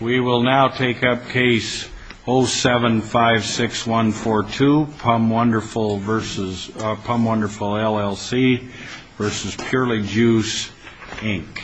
We will now take up case 0756142, Pum Wonderful LLC v. Purely Juice, Inc.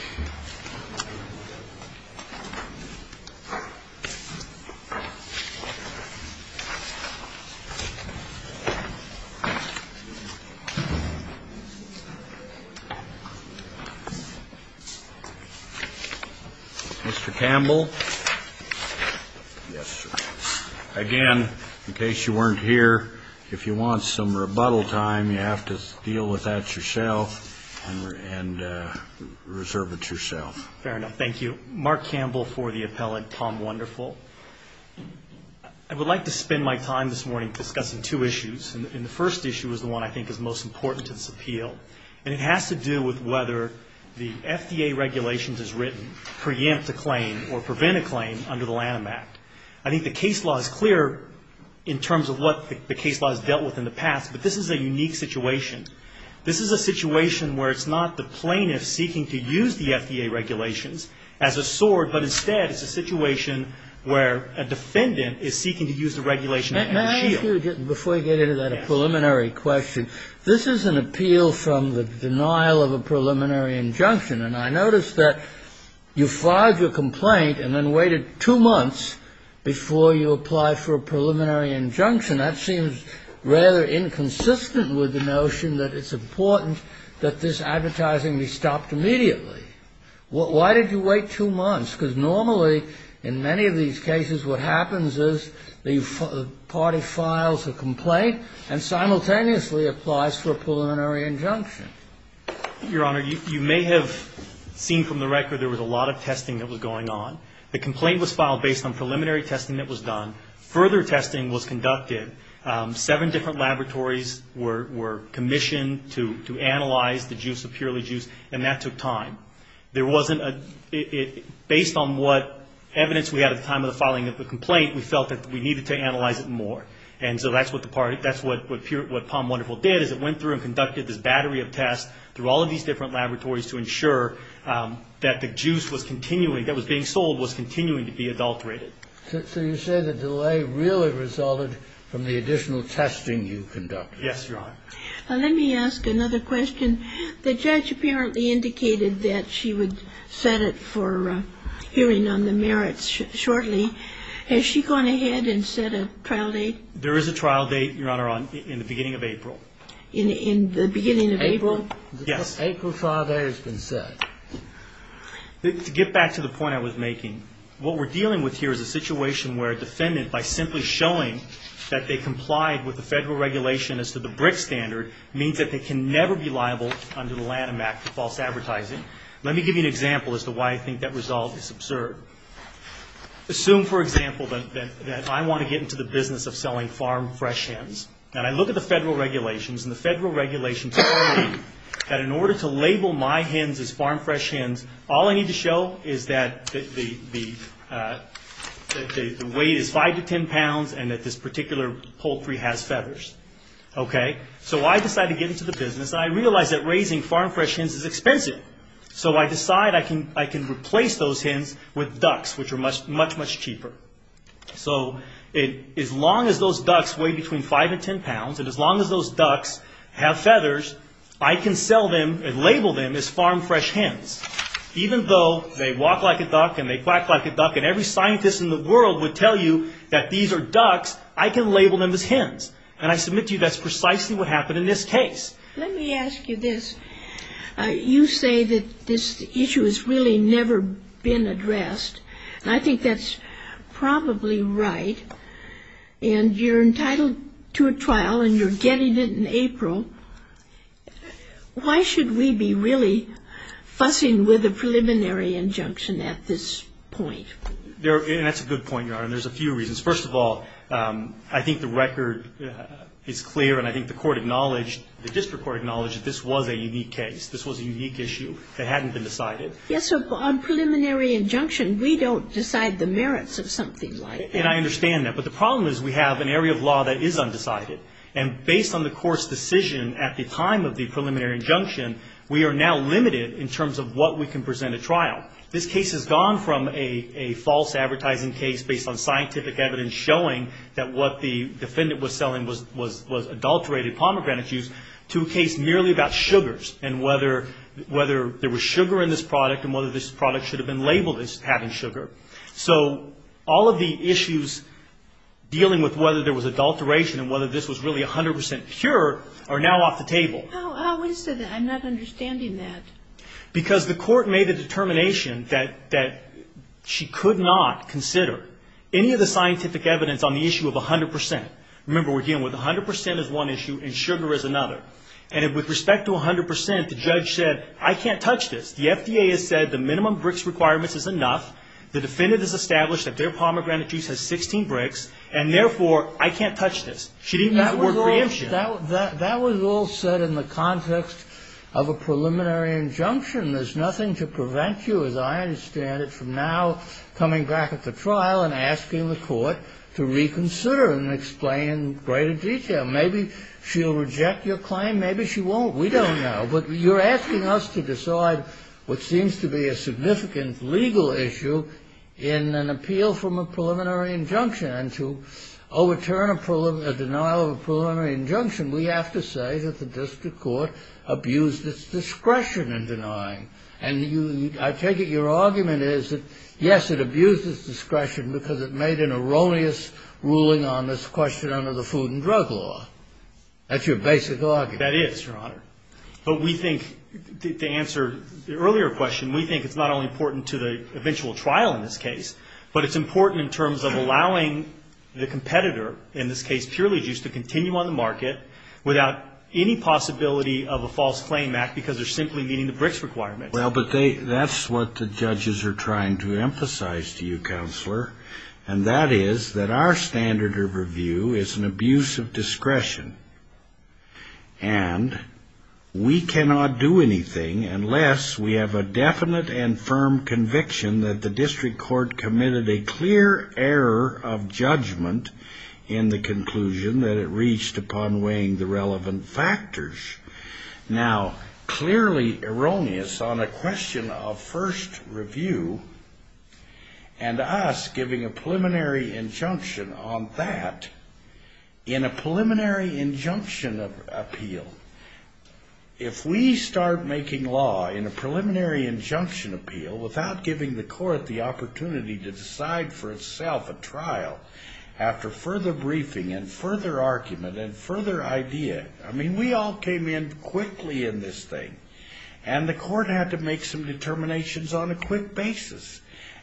Again, in case you weren't here, if you want some rebuttal time, you have to deal with that yourself and reserve it yourself. Mark Campbell for the appellate, Pum Wonderful. I would like to spend my time this morning discussing two issues, and the first issue is the one I think is most important to this appeal, and it has to do with whether the FDA regulations as written preempt a claim or prevent a claim under the Lanham Act. I think the case law is clear in terms of what the case law has dealt with in the past, but this is a unique situation. This is a situation where it's not the plaintiff seeking to use the FDA regulations as a sword, but instead it's a situation where a defendant is seeking to use the regulation as a shield. Judge Pritzker May I ask you, before you get into that, a preliminary question. This is an appeal from the denial of a preliminary injunction, and I notice that you filed your complaint and then waited two months before you applied for a preliminary injunction. That seems rather inconsistent with the notion that it's important that this advertising be stopped immediately. Why did you wait two months? Because normally in many of these cases what happens is the party files a complaint and simultaneously applies for a preliminary injunction. Your Honor, you may have seen from the record there was a lot of testing that was going on. The complaint was filed based on preliminary testing that was done. Further testing was conducted. Seven different laboratories were commissioned to analyze the juice of Purely Juice, and that took time. There wasn't a, based on what evidence we had at the time of the filing of the complaint, we felt that we needed to analyze it more. And so that's what the party, that's what Palm Wonderful did, is it went through and conducted this battery of tests through all of these different laboratories to ensure that the juice was continuing, that was being sold, was continuing to be adulterated. So you say the delay really resulted from the additional testing you conducted. Yes, Your Honor. Let me ask another question. The judge apparently indicated that she would set it for hearing on the merits shortly. Has she gone ahead and set a trial date? There is a trial date, Your Honor, in the beginning of April. In the beginning of April? Yes. The April trial date has been set. To get back to the point I was making, what we're dealing with here is a situation where a defendant, by simply showing that they complied with the federal regulation as to the BRIC standard, means that they can never be liable under the Lanham Act for false advertising. Let me give you an example as to why I think that result is absurd. Assume, for example, that I want to get into the business of selling farm fresh hens, and I look at the federal regulations, and the federal regulations tell me that in order to label my hens as farm fresh hens, all I need to show is that the weight is 5 to 10 pounds and that this particular poultry has feathers. So I decide to get into the business, and I realize that raising farm fresh hens is expensive. So I decide I can replace those hens with ducks, which are much, much cheaper. So as long as those ducks weigh between 5 and 10 pounds, and as long as those ducks have I can label them as farm fresh hens. Even though they walk like a duck and they quack like a duck, and every scientist in the world would tell you that these are ducks, I can label them as hens. And I submit to you that's precisely what happened in this case. Let me ask you this. You say that this issue has really never been addressed. And I think that's probably right. And you're entitled to a trial, and you're getting it in April. Why should we be really fussing with a preliminary injunction at this point? And that's a good point, Your Honor, and there's a few reasons. First of all, I think the record is clear, and I think the court acknowledged, the district court acknowledged that this was a unique case. This was a unique issue that hadn't been decided. Yes, so on preliminary injunction, we don't decide the merits of something like that. And I understand that. But the problem is we have an area of law that is undecided. And based on the court's decision at the time of the preliminary injunction, we are now limited in terms of what we can present at trial. This case has gone from a false advertising case based on scientific evidence showing that what the defendant was selling was adulterated pomegranate juice to a case merely about sugars and whether there was sugar in this product and whether this product should have been labeled as having sugar. So all of the issues dealing with whether there was adulteration and whether this was really 100 percent pure are now off the table. How is that? I'm not understanding that. Because the court made a determination that she could not consider any of the scientific evidence on the issue of 100 percent. Remember, we're dealing with 100 percent as one issue and sugar as another. And with respect to 100 percent, the judge said, I can't touch this. The FDA has said the minimum BRICS requirements is enough. The defendant has established that their pomegranate juice has 16 BRICS, and therefore I can't touch this. She didn't use the word preemption. That was all said in the context of a preliminary injunction. There's nothing to prevent you, as I understand it, from now coming back at the trial and asking the court to reconsider and explain in greater detail. Maybe she'll reject your claim. Maybe she won't. We don't know. But you're asking us to decide what seems to be a significant legal issue in an appeal from a preliminary injunction. And to overturn a denial of a preliminary injunction, we have to say that the district court abused its discretion in denying. And I take it your argument is that, yes, it abused its discretion because it made an erroneous ruling on this question under the Food and Drug Law. That's your basic argument. That is, Your Honor. But we think, to answer the earlier question, we think it's not only important to the eventual trial in this case, but it's important in terms of allowing the competitor, in this case purely juice, to continue on the market without any possibility of a false claim act because they're simply meeting the BRICS requirement. Well, but that's what the judges are trying to emphasize to you, Counselor, And we cannot do anything unless we have a definite and firm conviction that the district court committed a clear error of judgment in the conclusion that it reached upon weighing the relevant factors. Now, clearly erroneous on a question of first review and us giving a preliminary injunction on that, in a preliminary injunction appeal, if we start making law in a preliminary injunction appeal without giving the court the opportunity to decide for itself a trial after further briefing and further argument and further idea, I mean, we all came in quickly in this thing, and the court had to make some determinations on a quick basis.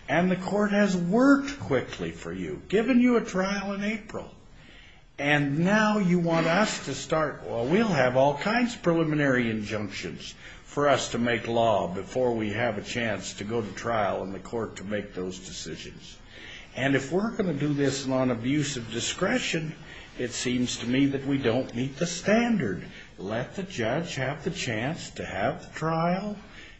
And the court has worked quickly for you, given you a trial in April, and now you want us to start, well, we'll have all kinds of preliminary injunctions for us to make law before we have a chance to go to trial and the court to make those decisions. And if we're going to do this on abusive discretion, it seems to me that we don't meet the standard. Let the judge have the chance to have the trial,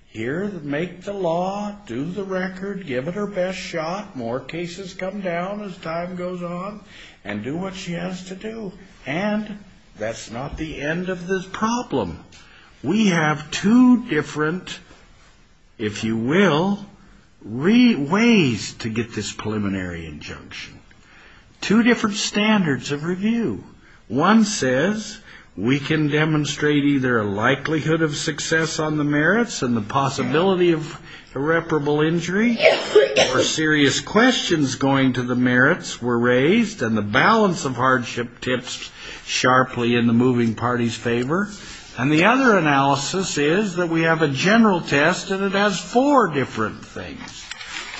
hear, make the law, do the record, give it her best shot, more cases come down as time goes on, and do what she has to do. And that's not the end of the problem. We have two different, if you will, ways to get this preliminary injunction. Two different standards of review. One says we can demonstrate either a likelihood of success on the merits and the possibility of irreparable injury or serious questions going to the merits were raised and the balance of hardship tips sharply in the moving party's favor. And the other analysis is that we have a general test, and it has four different things.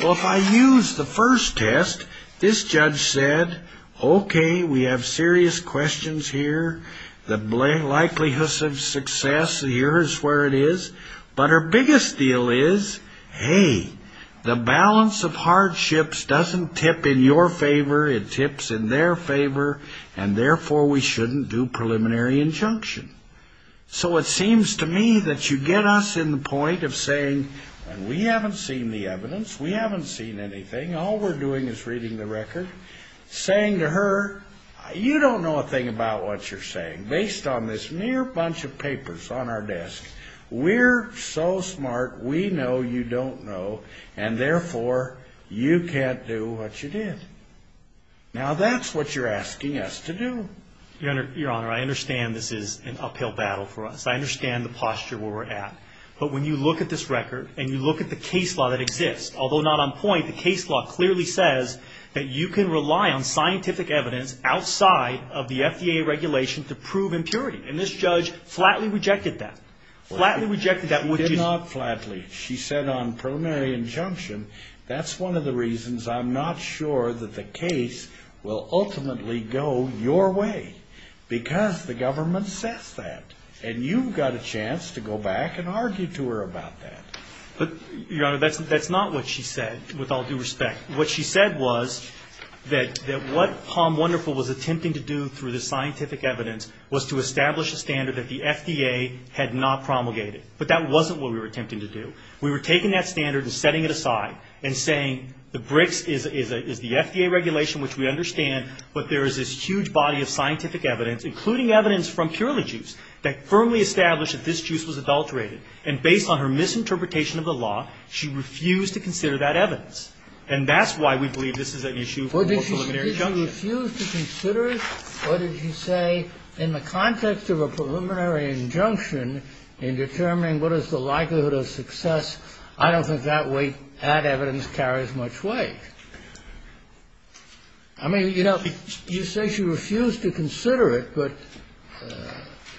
Well, if I use the first test, this judge said, Okay, we have serious questions here. The likelihood of success here is where it is. But her biggest deal is, Hey, the balance of hardships doesn't tip in your favor, it tips in their favor, and therefore we shouldn't do preliminary injunction. So it seems to me that you get us in the point of saying, We haven't seen the evidence. We haven't seen anything. All we're doing is reading the record. Saying to her, You don't know a thing about what you're saying, based on this mere bunch of papers on our desk. We're so smart, we know you don't know, and therefore you can't do what you did. Now that's what you're asking us to do. Your Honor, I understand this is an uphill battle for us. I understand the posture we're at. But when you look at this record and you look at the case law that exists, although not on point, the case law clearly says that you can rely on scientific evidence outside of the FDA regulation to prove impurity. And this judge flatly rejected that. Flatly rejected that. She did not flatly. She said on preliminary injunction, That's one of the reasons I'm not sure that the case will ultimately go your way. Because the government says that. And you've got a chance to go back and argue to her about that. But, Your Honor, that's not what she said, with all due respect. What she said was that what Palm Wonderful was attempting to do through the scientific evidence was to establish a standard that the FDA had not promulgated. But that wasn't what we were attempting to do. We were taking that standard and setting it aside and saying the BRICS is the FDA regulation, which we understand, but there is this huge body of scientific evidence, including evidence from Purely Juice, that firmly established that this juice was adulterated. And based on her misinterpretation of the law, she refused to consider that evidence. And that's why we believe this is an issue for a preliminary injunction. Kennedy. Well, did she refuse to consider it? Or did she say, in the context of a preliminary injunction, in determining what is the likelihood of success, I don't think that evidence carries much weight. I mean, you know, you say she refused to consider it, but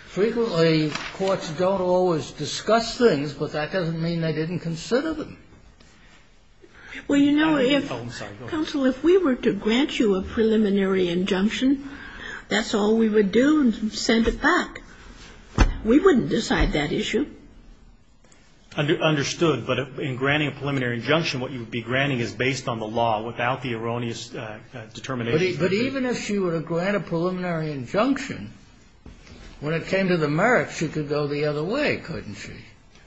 frequently courts don't always discuss things, but that doesn't mean they didn't consider them. Well, you know, if we were to grant you a preliminary injunction, that's all we would do is send it back. We wouldn't decide that issue. Understood. But in granting a preliminary injunction, what you would be granting is based on the law without the erroneous determination. But even if she were to grant a preliminary injunction, when it came to the merits, she could go the other way, couldn't she?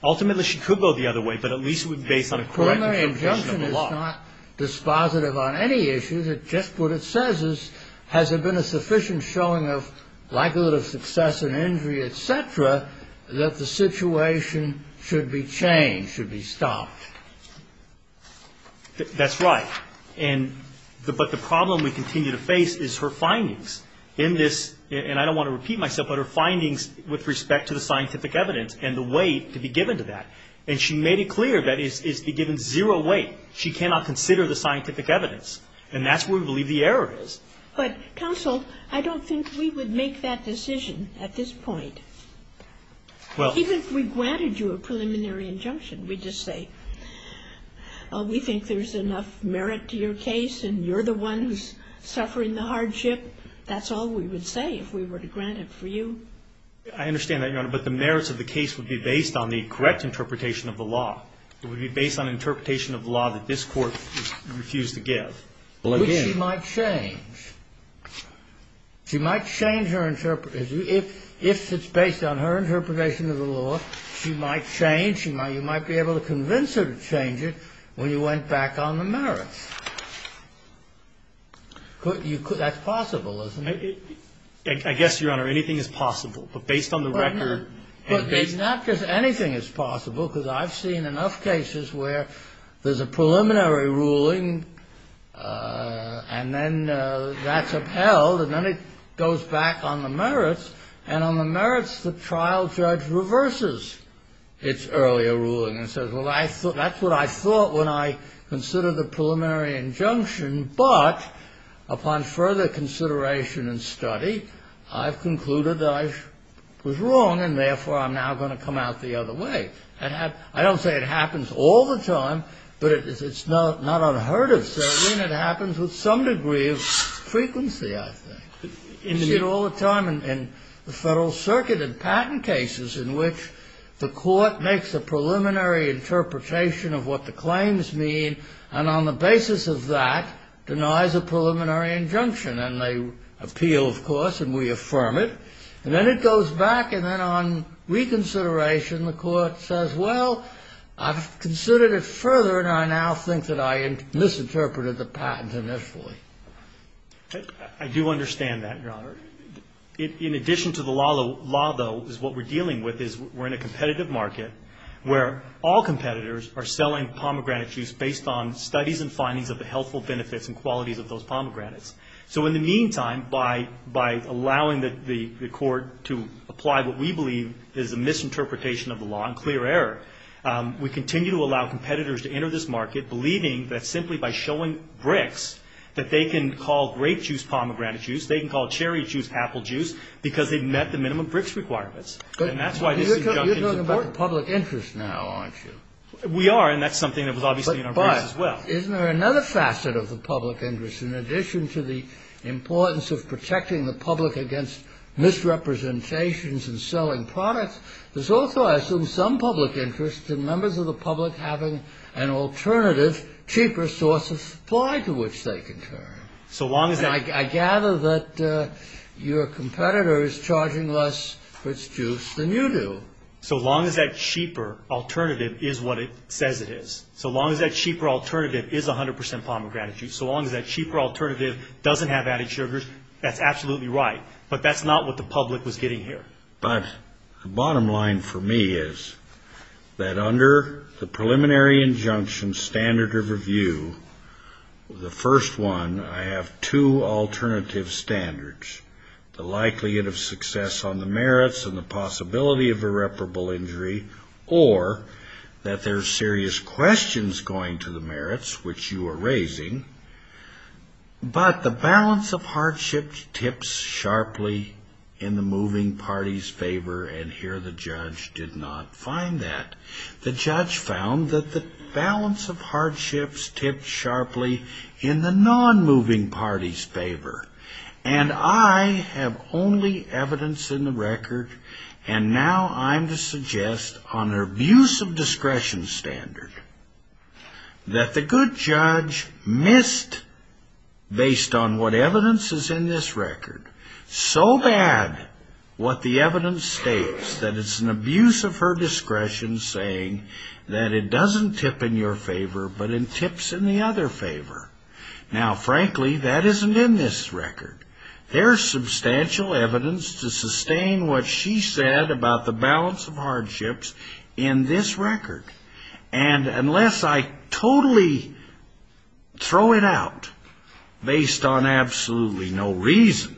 Ultimately, she could go the other way, but at least it would be based on a correct interpretation of the law. A preliminary injunction is not dispositive on any issue. Just what it says is, has there been a sufficient showing of likelihood of success in injury, et cetera, that the situation should be changed, should be stopped? That's right. And, but the problem we continue to face is her findings. In this, and I don't want to repeat myself, but her findings with respect to the scientific evidence and the weight to be given to that. And she made it clear that it's to be given zero weight. She cannot consider the scientific evidence. And that's where we believe the error is. But, counsel, I don't think we would make that decision at this point. Even if we granted you a preliminary injunction, we'd just say, oh, we think there's enough merit to your case, and you're the one who's suffering the hardship. That's all we would say if we were to grant it for you. I understand that, Your Honor. But the merits of the case would be based on the correct interpretation of the law. It would be based on interpretation of the law that this Court refused to give. Which she might change. She might change her interpretation. If it's based on her interpretation of the law, she might change. You might be able to convince her to change it when you went back on the merits. That's possible, isn't it? I guess, Your Honor, anything is possible. But based on the record. But it's not just anything is possible, because I've seen enough cases where there's a preliminary ruling, and then that's upheld, and then it goes back on the merits. And on the merits, the trial judge reverses its earlier ruling and says, well, that's what I thought when I considered the preliminary injunction. But upon further consideration and study, I've concluded that I was wrong, and therefore I'm now going to come out the other way. I don't say it happens all the time, but it's not unheard of. It happens with some degree of frequency, I think. You see it all the time in the Federal Circuit in patent cases in which the court makes a preliminary interpretation of what the claims mean, and on the basis of that denies a preliminary injunction. And they appeal, of course, and we affirm it. And then it goes back, and then on reconsideration, the court says, well, I've considered it further, and I now think that I misinterpreted the patent initially. I do understand that, Your Honor. In addition to the law, though, is what we're dealing with is we're in a competitive market where all competitors are selling pomegranate juice based on studies and findings of the healthful benefits and qualities of those pomegranates. So in the meantime, by allowing the court to apply what we believe is a misinterpretation of the law and clear error, we continue to allow competitors to enter this market believing that simply by showing BRICS that they can call grape juice pomegranate juice, they can call cherry juice apple juice, because they've met the minimum BRICS requirements. And that's why this injunction is important. You're talking about the public interest now, aren't you? We are, and that's something that was obviously in our briefs as well. But isn't there another facet of the public interest? In addition to the importance of protecting the public against misrepresentations and selling products, there's also, I assume, some public interest in members of the public having an alternative, cheaper source of supply to which they can turn. I gather that your competitor is charging less for its juice than you do. So long as that cheaper alternative is what it says it is. So long as that cheaper alternative is 100 percent pomegranate juice. So long as that cheaper alternative doesn't have added sugars, that's absolutely right. But that's not what the public was getting here. But the bottom line for me is that under the preliminary injunction standard of review, the first one, I have two alternative standards, the likelihood of success on the merits and the possibility of irreparable injury, or that there are serious questions going to the merits, which you are raising, but the balance of hardship tips sharply in the moving party's favor, and here the judge did not find that. The judge found that the balance of hardship tips sharply in the non-moving party's favor. And I have only evidence in the record, and now I'm to suggest, on her abuse of discretion standard, that the good judge missed, based on what evidence is in this record, so bad what the evidence states, that it's an abuse of her discretion saying that it doesn't tip in your favor, but it tips in the other favor. Now, frankly, that isn't in this record. There's substantial evidence to sustain what she said about the balance of hardships in this record. And unless I totally throw it out based on absolutely no reason,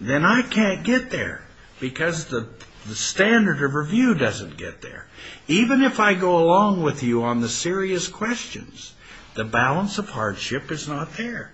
then I can't get there because the standard of review doesn't get there. Even if I go along with you on the serious questions, the balance of hardship is not there.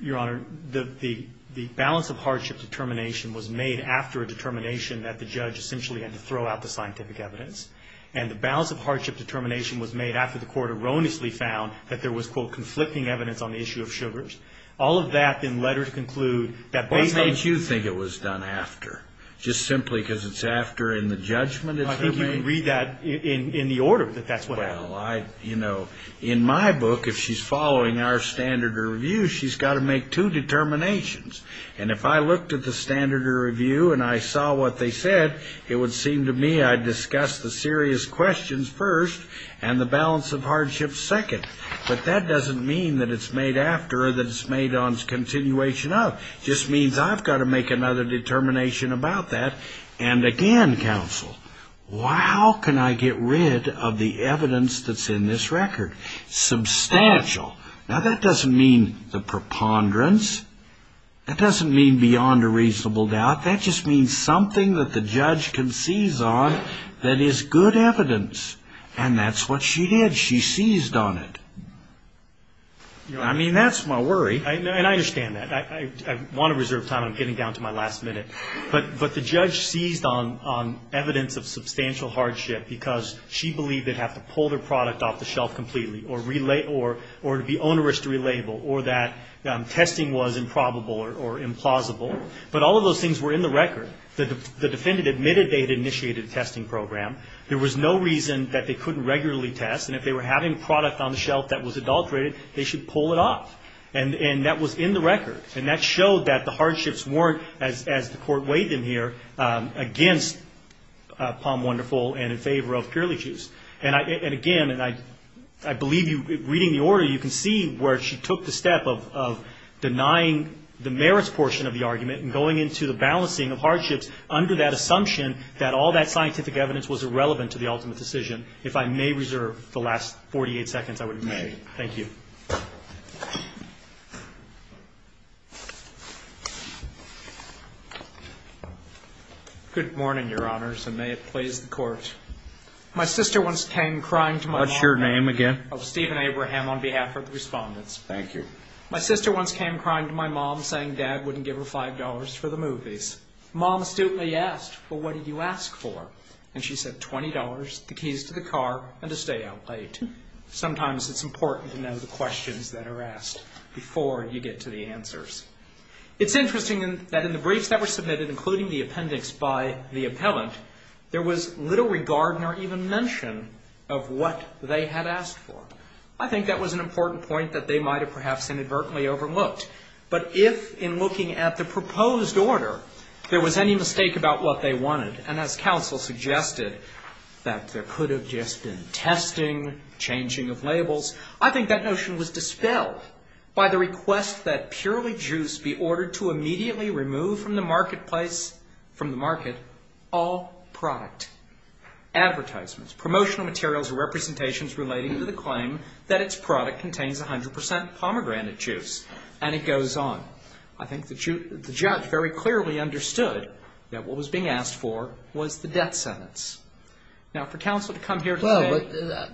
Your Honor, the balance of hardship determination was made after a determination that the judge essentially had to throw out the scientific evidence, and the balance of hardship determination was made after the court erroneously found that there was, quote, conflicting evidence on the issue of sugars. All of that, in letters conclude, that based on the- What made you think it was done after? Just simply because it's after in the judgment it's being made? I think you can read that in the order that that's what happened. Well, you know, in my book, if she's following our standard of review, she's got to make two determinations. And if I looked at the standard of review and I saw what they said, it would seem to me I'd discuss the serious questions first and the balance of hardship second. But that doesn't mean that it's made after or that it's made on continuation of. It just means I've got to make another determination about that. And again, counsel, how can I get rid of the evidence that's in this record? Substantial. Now, that doesn't mean the preponderance. That doesn't mean beyond a reasonable doubt. That just means something that the judge can seize on that is good evidence. And that's what she did. She seized on it. I mean, that's my worry. And I understand that. I want to reserve time. I'm getting down to my last minute. But the judge seized on evidence of substantial hardship because she believed they'd have to pull their product off the shelf completely or to be onerous to relabel or that testing was improbable or implausible. But all of those things were in the record. The defendant admitted they had initiated a testing program. There was no reason that they couldn't regularly test. And if they were having product on the shelf that was adulterated, they should pull it off. And that was in the record. And that showed that the hardships weren't, as the court weighed them here, against Palm Wonderful and in favor of Purely Juice. And, again, I believe reading the order you can see where she took the step of denying the merits portion of the argument and going into the balancing of hardships under that assumption that all that scientific evidence was irrelevant to the ultimate decision. If I may reserve the last 48 seconds, I would. If you may. Thank you. Good morning, Your Honors, and may it please the Court. My sister once came crying to my mom. What's your name again? Steven Abraham on behalf of the respondents. Thank you. My sister once came crying to my mom saying Dad wouldn't give her $5 for the movies. Mom astutely asked, well, what did you ask for? And she said $20, the keys to the car, and to stay out late. Sometimes it's important to know the questions that are asked before you get to the answers. It's interesting that in the briefs that were submitted, including the appendix by the appellant, there was little regard nor even mention of what they had asked for. I think that was an important point that they might have perhaps inadvertently overlooked. But if, in looking at the proposed order, there was any mistake about what they wanted, and as counsel suggested, that there could have just been testing, changing of labels, I think that notion was dispelled by the request that purely juice be ordered to immediately remove from the marketplace, from the market, all product, advertisements, promotional materials, or representations relating to the claim that its product contains 100 percent pomegranate juice. And it goes on. Well, I think the judge very clearly understood that what was being asked for was the death sentence. Now, for counsel to come here today. Well,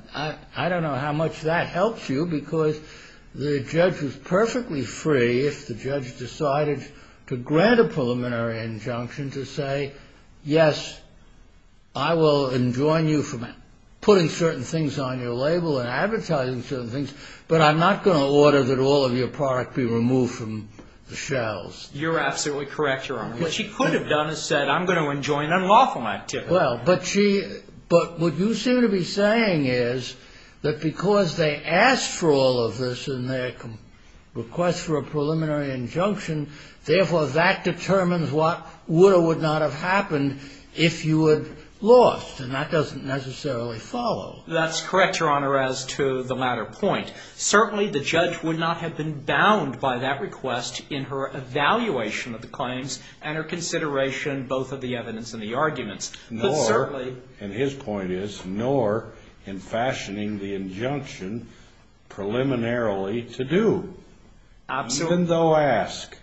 I don't know how much that helps you, because the judge was perfectly free, if the judge decided to grant a preliminary injunction, to say, yes, I will enjoin you from putting certain things on your label and advertising certain things, but I'm not going to order that all of your product be removed from the shelves. You're absolutely correct, Your Honor. What she could have done is said, I'm going to enjoin unlawful activity. Well, but what you seem to be saying is that because they asked for all of this in their request for a preliminary injunction, therefore that determines what would or would not have happened if you had lost, and that doesn't necessarily follow. That's correct, Your Honor, as to the latter point. Certainly the judge would not have been bound by that request in her evaluation of the claims and her consideration both of the evidence and the arguments. Nor, and his point is, nor in fashioning the injunction preliminarily to do. Absolutely. Even though asked.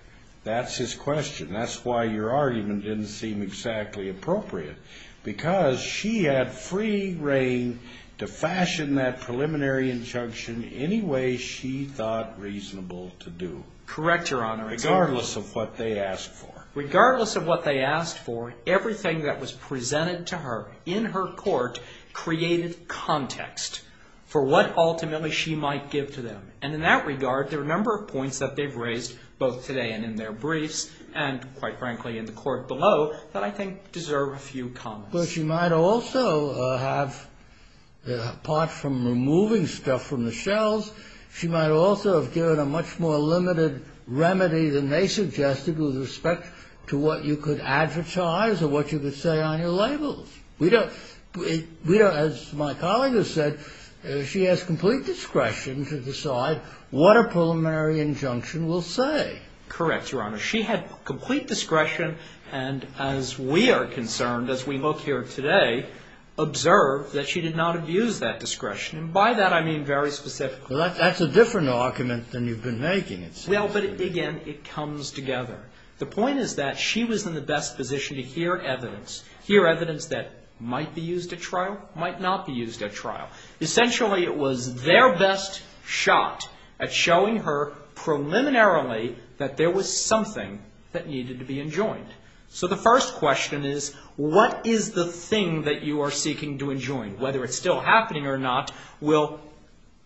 That's his question. That's why your argument didn't seem exactly appropriate. Because she had free reign to fashion that preliminary injunction any way she thought reasonable to do. Correct, Your Honor. Regardless of what they asked for. Regardless of what they asked for, everything that was presented to her in her court created context for what ultimately she might give to them. And in that regard, there are a number of points that they've raised both today and in their briefs and, quite frankly, in the court below that I think deserve a few comments. Well, she might also have, apart from removing stuff from the shelves, she might also have given a much more limited remedy than they suggested with respect to what you could advertise or what you could say on your labels. We don't, as my colleague has said, she has complete discretion to decide what a preliminary injunction will say. Correct, Your Honor. She had complete discretion and, as we are concerned, as we look here today, observed that she did not abuse that discretion. And by that I mean very specifically. Well, that's a different argument than you've been making. Well, but again, it comes together. The point is that she was in the best position to hear evidence, hear evidence that might be used at trial, might not be used at trial. Essentially, it was their best shot at showing her preliminarily that there was something that needed to be enjoined. So the first question is, what is the thing that you are seeking to enjoin? Whether it's still happening or not, we'll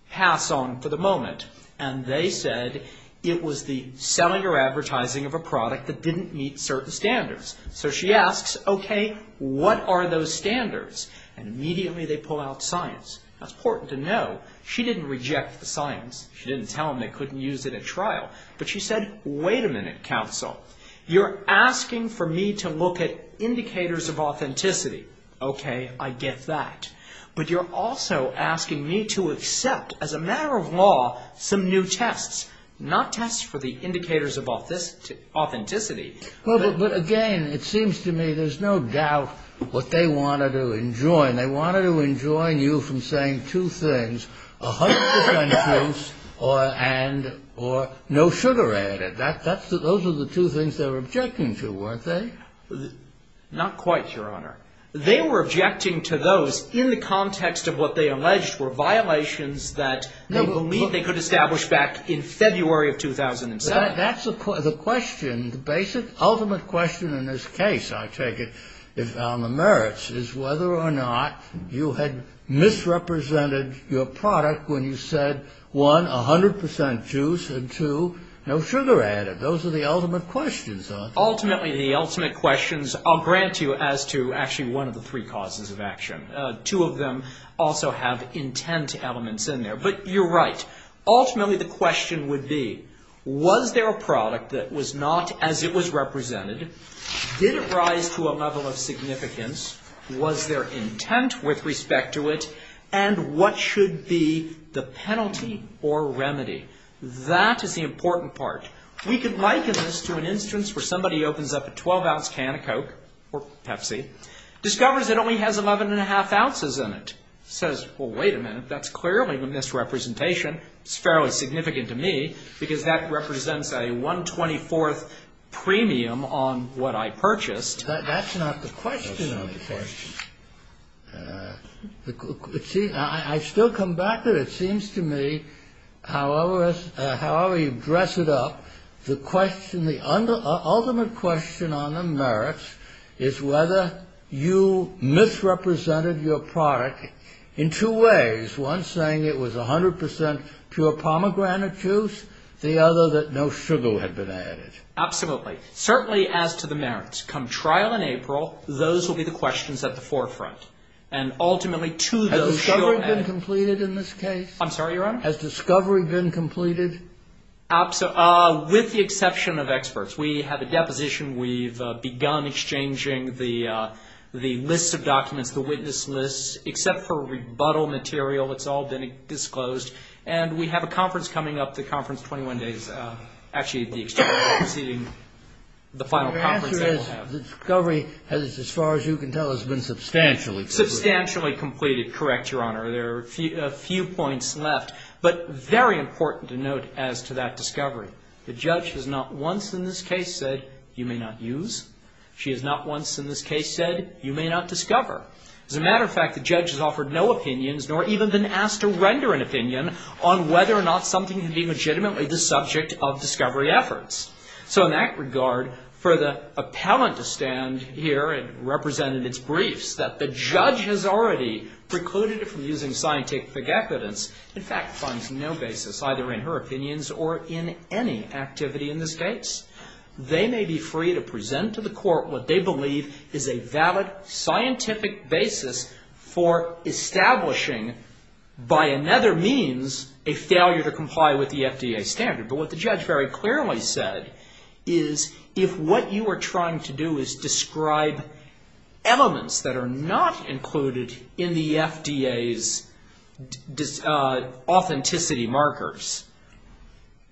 pass on for the moment. And they said it was the selling or advertising of a product that didn't meet certain standards. So she asks, okay, what are those standards? And immediately they pull out science. That's important to know. She didn't reject the science. She didn't tell them they couldn't use it at trial. But she said, wait a minute, counsel, you're asking for me to look at indicators of authenticity. Okay, I get that. But you're also asking me to accept, as a matter of law, some new tests, not tests for the indicators of authenticity. But, again, it seems to me there's no doubt what they wanted to enjoin. They wanted to enjoin you from saying two things, a hundred percent truth and or no sugar added. Those are the two things they were objecting to, weren't they? Not quite, Your Honor. They were objecting to those in the context of what they alleged were violations that they believed they could establish back in February of 2007. That's the question, the basic, ultimate question in this case, I take it, on the merits, is whether or not you had misrepresented your product when you said, one, a hundred percent truth, and two, no sugar added. Those are the ultimate questions. Ultimately, the ultimate questions, I'll grant you, as to actually one of the three causes of action. Two of them also have intent elements in there. But you're right. Ultimately, the question would be, was there a product that was not as it was represented? Did it rise to a level of significance? Was there intent with respect to it? And what should be the penalty or remedy? That is the important part. We could liken this to an instance where somebody opens up a 12-ounce can of Coke or Pepsi, discovers it only has 11 1⁄2 ounces in it. Says, well, wait a minute, that's clearly a misrepresentation. It's fairly significant to me, because that represents a 1⁄24th premium on what I purchased. That's not the question of the case. I still come back to it, it seems to me, however you dress it up, the ultimate question on the merits is whether you misrepresented your product in two ways, one saying it was 100 percent pure pomegranate juice, the other that no sugar had been added. Absolutely. Certainly, as to the merits, come trial in April, those will be the questions at the forefront. And ultimately, to those who are added. Has discovery been completed in this case? I'm sorry, Your Honor? Has discovery been completed? With the exception of experts. We have a deposition. We've begun exchanging the lists of documents, the witness lists, except for rebuttal material. It's all been disclosed. And we have a conference coming up, the conference in 21 days. Actually, the external proceeding, the final conference that we'll have. Your answer is discovery, as far as you can tell, has been substantially completed. Substantially completed, correct, Your Honor. There are a few points left. But very important to note as to that discovery. The judge has not once in this case said, you may not use. She has not once in this case said, you may not discover. As a matter of fact, the judge has offered no opinions, nor even been asked to render an opinion on whether or not something can be legitimately the subject of discovery efforts. So in that regard, for the appellant to stand here and represent in its briefs that the judge has already precluded it from using scientific evidence, in fact, finds no basis either in her opinions or in any activity in this case. They may be free to present to the court what they believe is a valid scientific basis for establishing, by another means, a failure to comply with the FDA standard. But what the judge very clearly said is, if what you are trying to do is describe elements that are not included in the FDA's authenticity markers,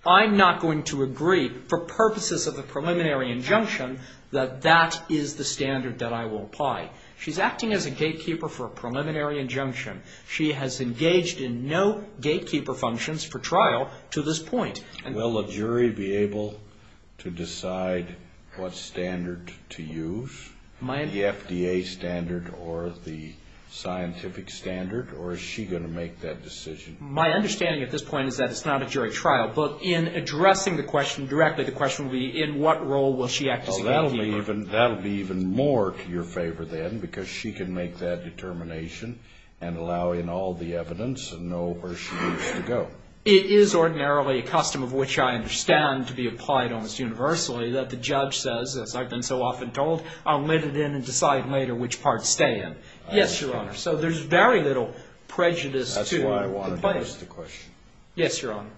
I'm not going to agree, for purposes of a preliminary injunction, that that is the standard that I will apply. She's acting as a gatekeeper for a preliminary injunction. She has engaged in no gatekeeper functions for trial to this point. Will a jury be able to decide what standard to use, the FDA standard or the scientific standard, or is she going to make that decision? My understanding at this point is that it's not a jury trial. But in addressing the question directly, the question will be, in what role will she act as a gatekeeper? That will be even more to your favor then, because she can make that determination and allow in all the evidence and know where she needs to go. It is ordinarily a custom, of which I understand to be applied almost universally, that the judge says, as I've been so often told, I'll let it in and decide later which parts stay in. Yes, Your Honor. So there's very little prejudice to compliance. That's why I wanted to ask the question. Yes, Your Honor.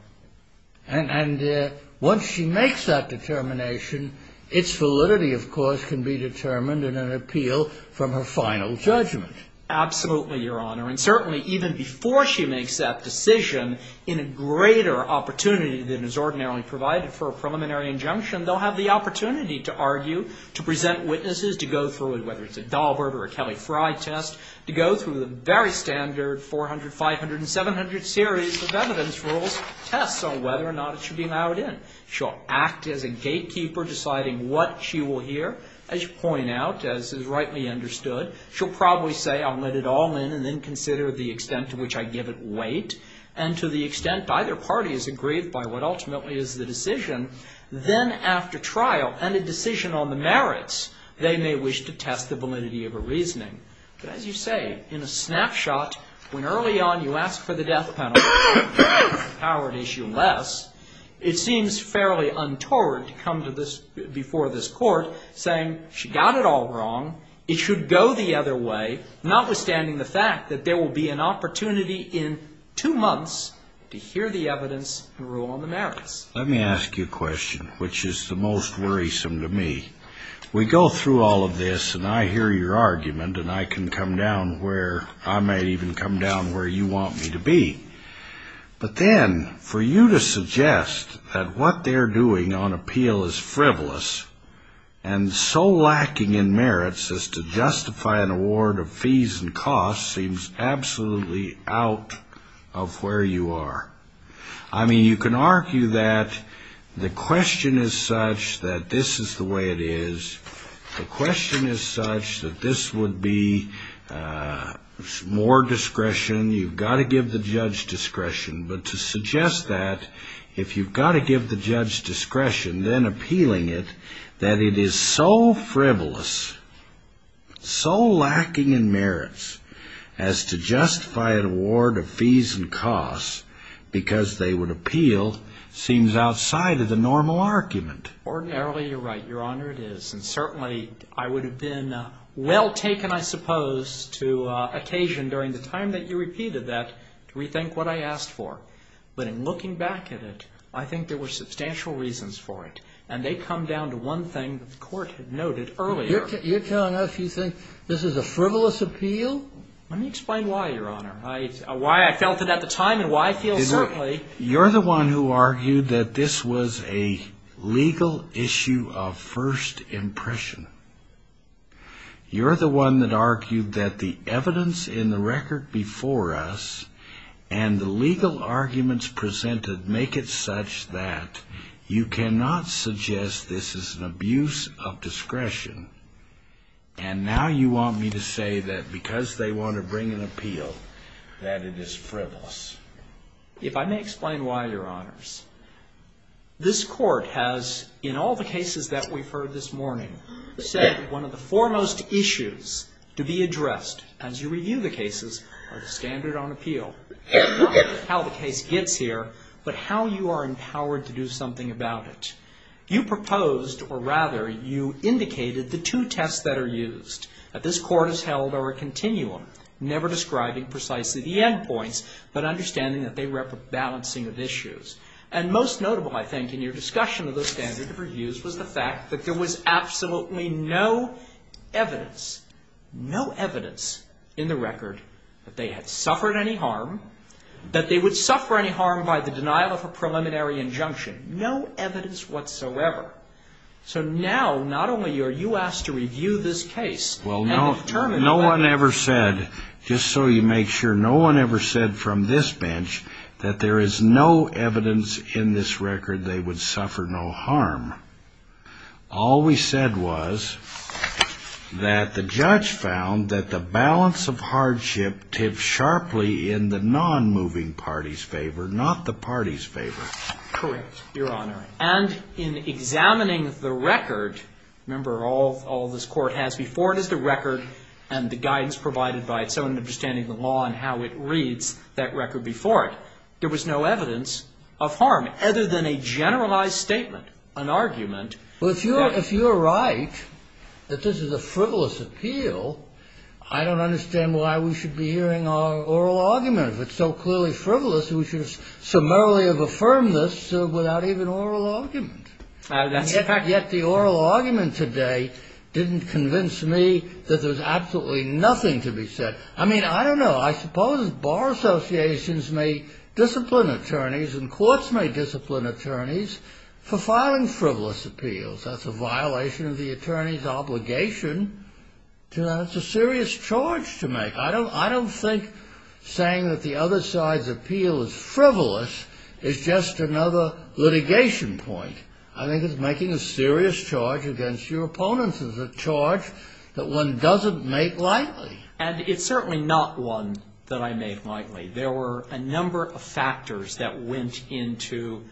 And once she makes that determination, its validity, of course, can be determined in an appeal from her final judgment. Absolutely, Your Honor. And certainly even before she makes that decision, in a greater opportunity than is ordinarily provided for a preliminary injunction, they'll have the opportunity to argue, to present witnesses, to go through it, whether it's a Daubert or a Kelly-Fry test, to go through the very standard 400, 500, and 700 series of evidence rules, tests on whether or not it should be allowed in. She'll act as a gatekeeper deciding what she will hear. As you point out, as is rightly understood, she'll probably say, I'll let it all in and then consider the extent to which I give it weight. And to the extent either party is agreed by what ultimately is the decision, then after trial and a decision on the merits, they may wish to test the validity of a reasoning. But as you say, in a snapshot, when early on you ask for the death penalty, the Howard issue less, it seems fairly untoward to come to this, before this court, saying, she got it all wrong, it should go the other way, notwithstanding the fact that there will be an opportunity in two months to hear the evidence and rule on the merits. Let me ask you a question, which is the most worrisome to me. We go through all of this, and I hear your argument, and I can come down where I may even come down where you want me to be. But then, for you to suggest that what they're doing on appeal is frivolous, and so lacking in merits as to justify an award of fees and costs seems absolutely out of where you are. I mean, you can argue that the question is such that this is the way it is. The question is such that this would be more discretion. You've got to give the judge discretion. But to suggest that, if you've got to give the judge discretion, then appealing it, that it is so frivolous, so lacking in merits, as to justify an award of fees and costs, because they would appeal, seems outside of the normal argument. Ordinarily, you're right, Your Honor, it is. And certainly, I would have been well taken, I suppose, to occasion, during the time that you repeated that, to rethink what I asked for. But in looking back at it, I think there were substantial reasons for it. And they come down to one thing that the Court had noted earlier. You're telling us you think this is a frivolous appeal? Let me explain why, Your Honor, why I felt it at the time and why I feel certainly. You're the one who argued that this was a legal issue of first impression. You're the one that argued that the evidence in the record before us and the legal arguments presented make it such that you cannot suggest this is an abuse of discretion. And now you want me to say that because they want to bring an appeal, that it is frivolous. If I may explain why, Your Honors, this Court has, in all the cases that we've heard this morning, said that one of the foremost issues to be addressed as you review the cases are the standard on appeal. Not how the case gets here, but how you are empowered to do something about it. You proposed, or rather, you indicated the two tests that are used that this Court has held over a continuum, never describing precisely the end points, but understanding that they rep a balancing of issues. And most notable, I think, in your discussion of the standard of reviews was the fact that there was absolutely no evidence, no evidence in the record that they had suffered any harm, that they would suffer any harm by the denial of a preliminary injunction. No evidence whatsoever. So now, not only are you asked to review this case and determine whether or not there is any evidence in this record that they would suffer any harm, but just so you make sure, no one ever said from this bench that there is no evidence in this record they would suffer no harm. All we said was that the judge found that the balance of hardship tipped sharply in the non-moving party's favor, not the party's favor. Correct, Your Honor. And in examining the record, remember, all this Court has before it is the record and the guidance provided by its own understanding of the law and how it reads that record before it, there was no evidence of harm, other than a generalized statement, an argument. Well, if you're right that this is a frivolous appeal, I don't understand why we should be hearing our oral argument. If it's so clearly frivolous, we should have summarily affirmed this without even oral argument. Yet the oral argument today didn't convince me that there's absolutely nothing to be said. I mean, I don't know. I suppose bar associations may discipline attorneys and courts may discipline attorneys for filing frivolous appeals. That's a violation of the attorney's obligation. It's a serious charge to make. I don't think saying that the other side's appeal is frivolous is just another litigation point. I think it's making a serious charge against your opponents. It's a charge that one doesn't make lightly. And it's certainly not one that I make lightly. There were a number of factors that went into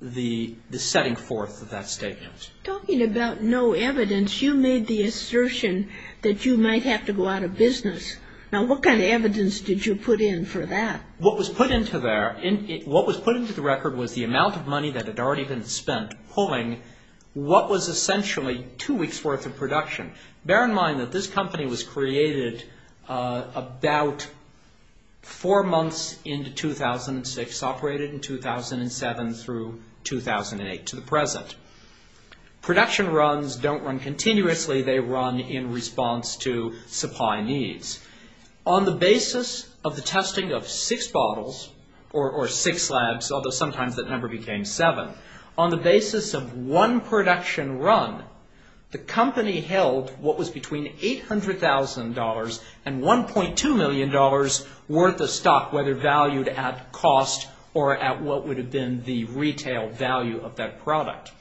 the setting forth of that statement. Talking about no evidence, you made the assertion that you might have to go out of business. Now, what kind of evidence did you put in for that? What was put into the record was the amount of money that had already been spent pulling what was essentially two weeks' worth of production. Bear in mind that this company was created about four months into 2006, operated in 2007 through 2008 to the present. Production runs don't run continuously. They run in response to supply needs. On the basis of the testing of six bottles or six labs, although sometimes that number became seven, on the basis of one production run, the company held what was between $800,000 and $1.2 million worth of stock, whether valued at cost or at what would have been the retail value of that product.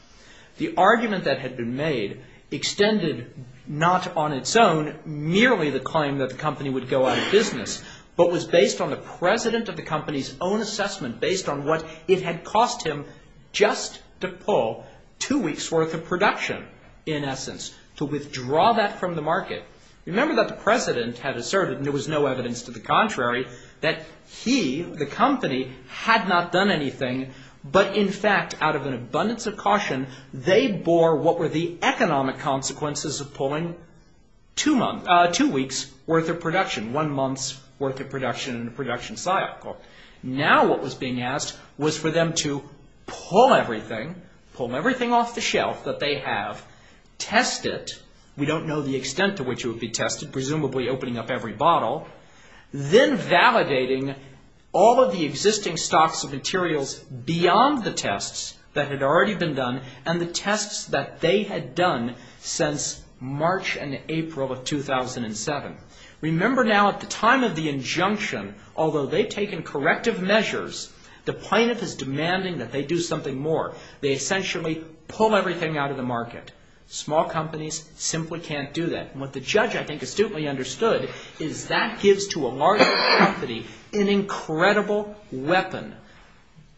The argument that had been made extended not on its own, merely the claim that the company would go out of business, but was based on the president of the company's own assessment, based on what it had cost him just to pull two weeks' worth of production, in essence, to withdraw that from the market. Remember that the president had asserted, and there was no evidence to the contrary, that he, the company, had not done anything, but in fact, out of an abundance of caution, they bore what were the economic consequences of pulling two weeks' worth of production, one month's worth of production in a production cycle. Now what was being asked was for them to pull everything, pull everything off the shelf that they have, test it, we don't know the extent to which it would be tested, presumably opening up every bottle, then validating all of the existing stocks of materials beyond the tests that had already been done and the tests that they had done since March and April of 2007. Remember now, at the time of the injunction, although they'd taken corrective measures, the plaintiff is demanding that they do something more. They essentially pull everything out of the market. Small companies simply can't do that. And what the judge, I think, astutely understood is that gives to a large company an incredible weapon,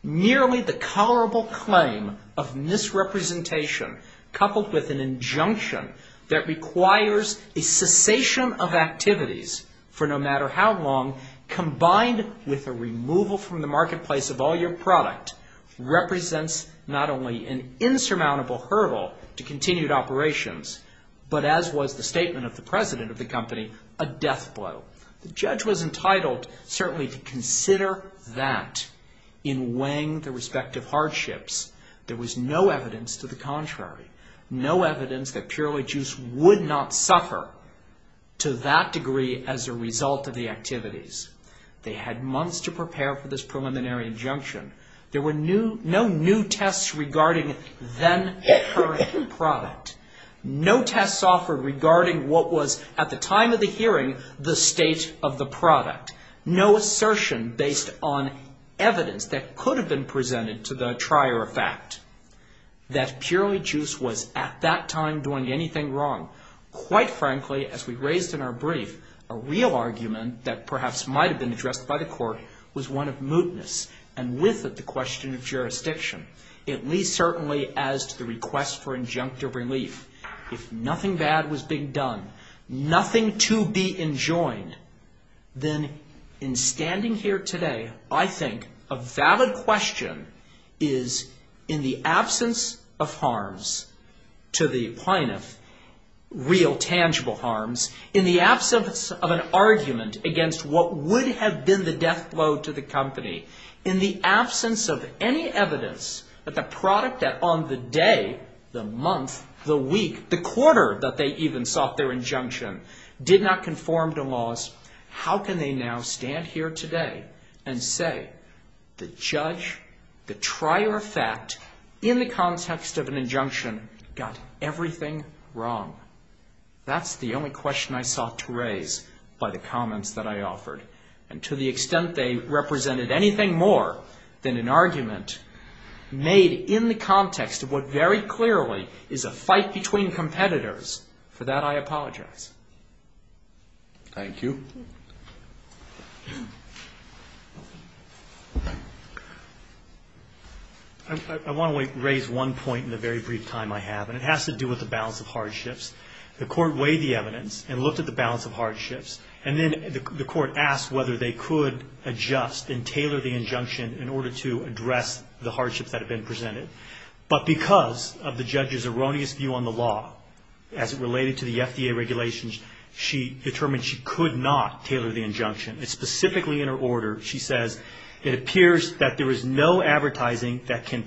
nearly the colorable claim of misrepresentation, coupled with an injunction that requires a cessation of activities for no matter how long, combined with a removal from the marketplace of all your product, represents not only an insurmountable hurdle to continued operations, but as was the statement of the president of the company, a death blow. The judge was entitled certainly to consider that in weighing the respective hardships. There was no evidence to the contrary. No evidence that Purely Juice would not suffer to that degree as a result of the activities. They had months to prepare for this preliminary injunction. There were no new tests regarding then-current product. No tests offered regarding what was, at the time of the hearing, the state of the product. No assertion based on evidence that could have been presented to the trier of fact that Purely Juice was at that time doing anything wrong. Quite frankly, as we raised in our brief, a real argument that perhaps might have been addressed by the court was one of mootness and with it the question of jurisdiction, at least certainly as to the request for injunctive relief. If nothing bad was being done, nothing to be enjoined, then in standing here today, I think a valid question is, in the absence of harms to the plaintiff, real tangible harms, in the absence of an argument against what would have been the death blow to the company, in the absence of any evidence that the product that on the day, the month, the week, the quarter that they even sought their injunction did not conform to laws, how can they now stand here today and say, the judge, the trier of fact, in the context of an injunction, got everything wrong? That's the only question I sought to raise by the comments that I offered. And to the extent they represented anything more than an argument made in the context of what very clearly is a fight between competitors, for that I apologize. Thank you. I want to raise one point in the very brief time I have, and it has to do with the balance of hardships. The court weighed the evidence and looked at the balance of hardships, and then the court asked whether they could adjust and tailor the injunction in order to address the hardships that had been presented. But because of the judge's erroneous view on the law as it related to the FDA regulations, she determined she could not tailor the injunction. Specifically in her order, she says, it appears that there is no advertising that can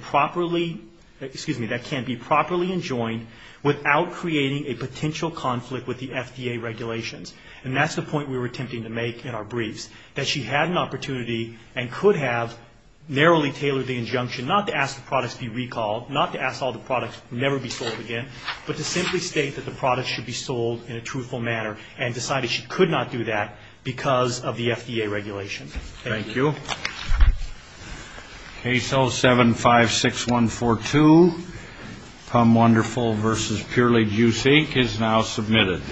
be properly enjoined without creating a potential conflict with the FDA regulations. And that's the point we were attempting to make in our briefs, that she had an opportunity and could have narrowly tailored the injunction, not to ask the products be recalled, not to ask all the products never be sold again, but to simply state that the products should be sold in a truthful manner and decided she could not do that because of the FDA regulations. Thank you. Thank you. Case 0756142, Pum Wonderful v. Purely Juicy, is now submitted.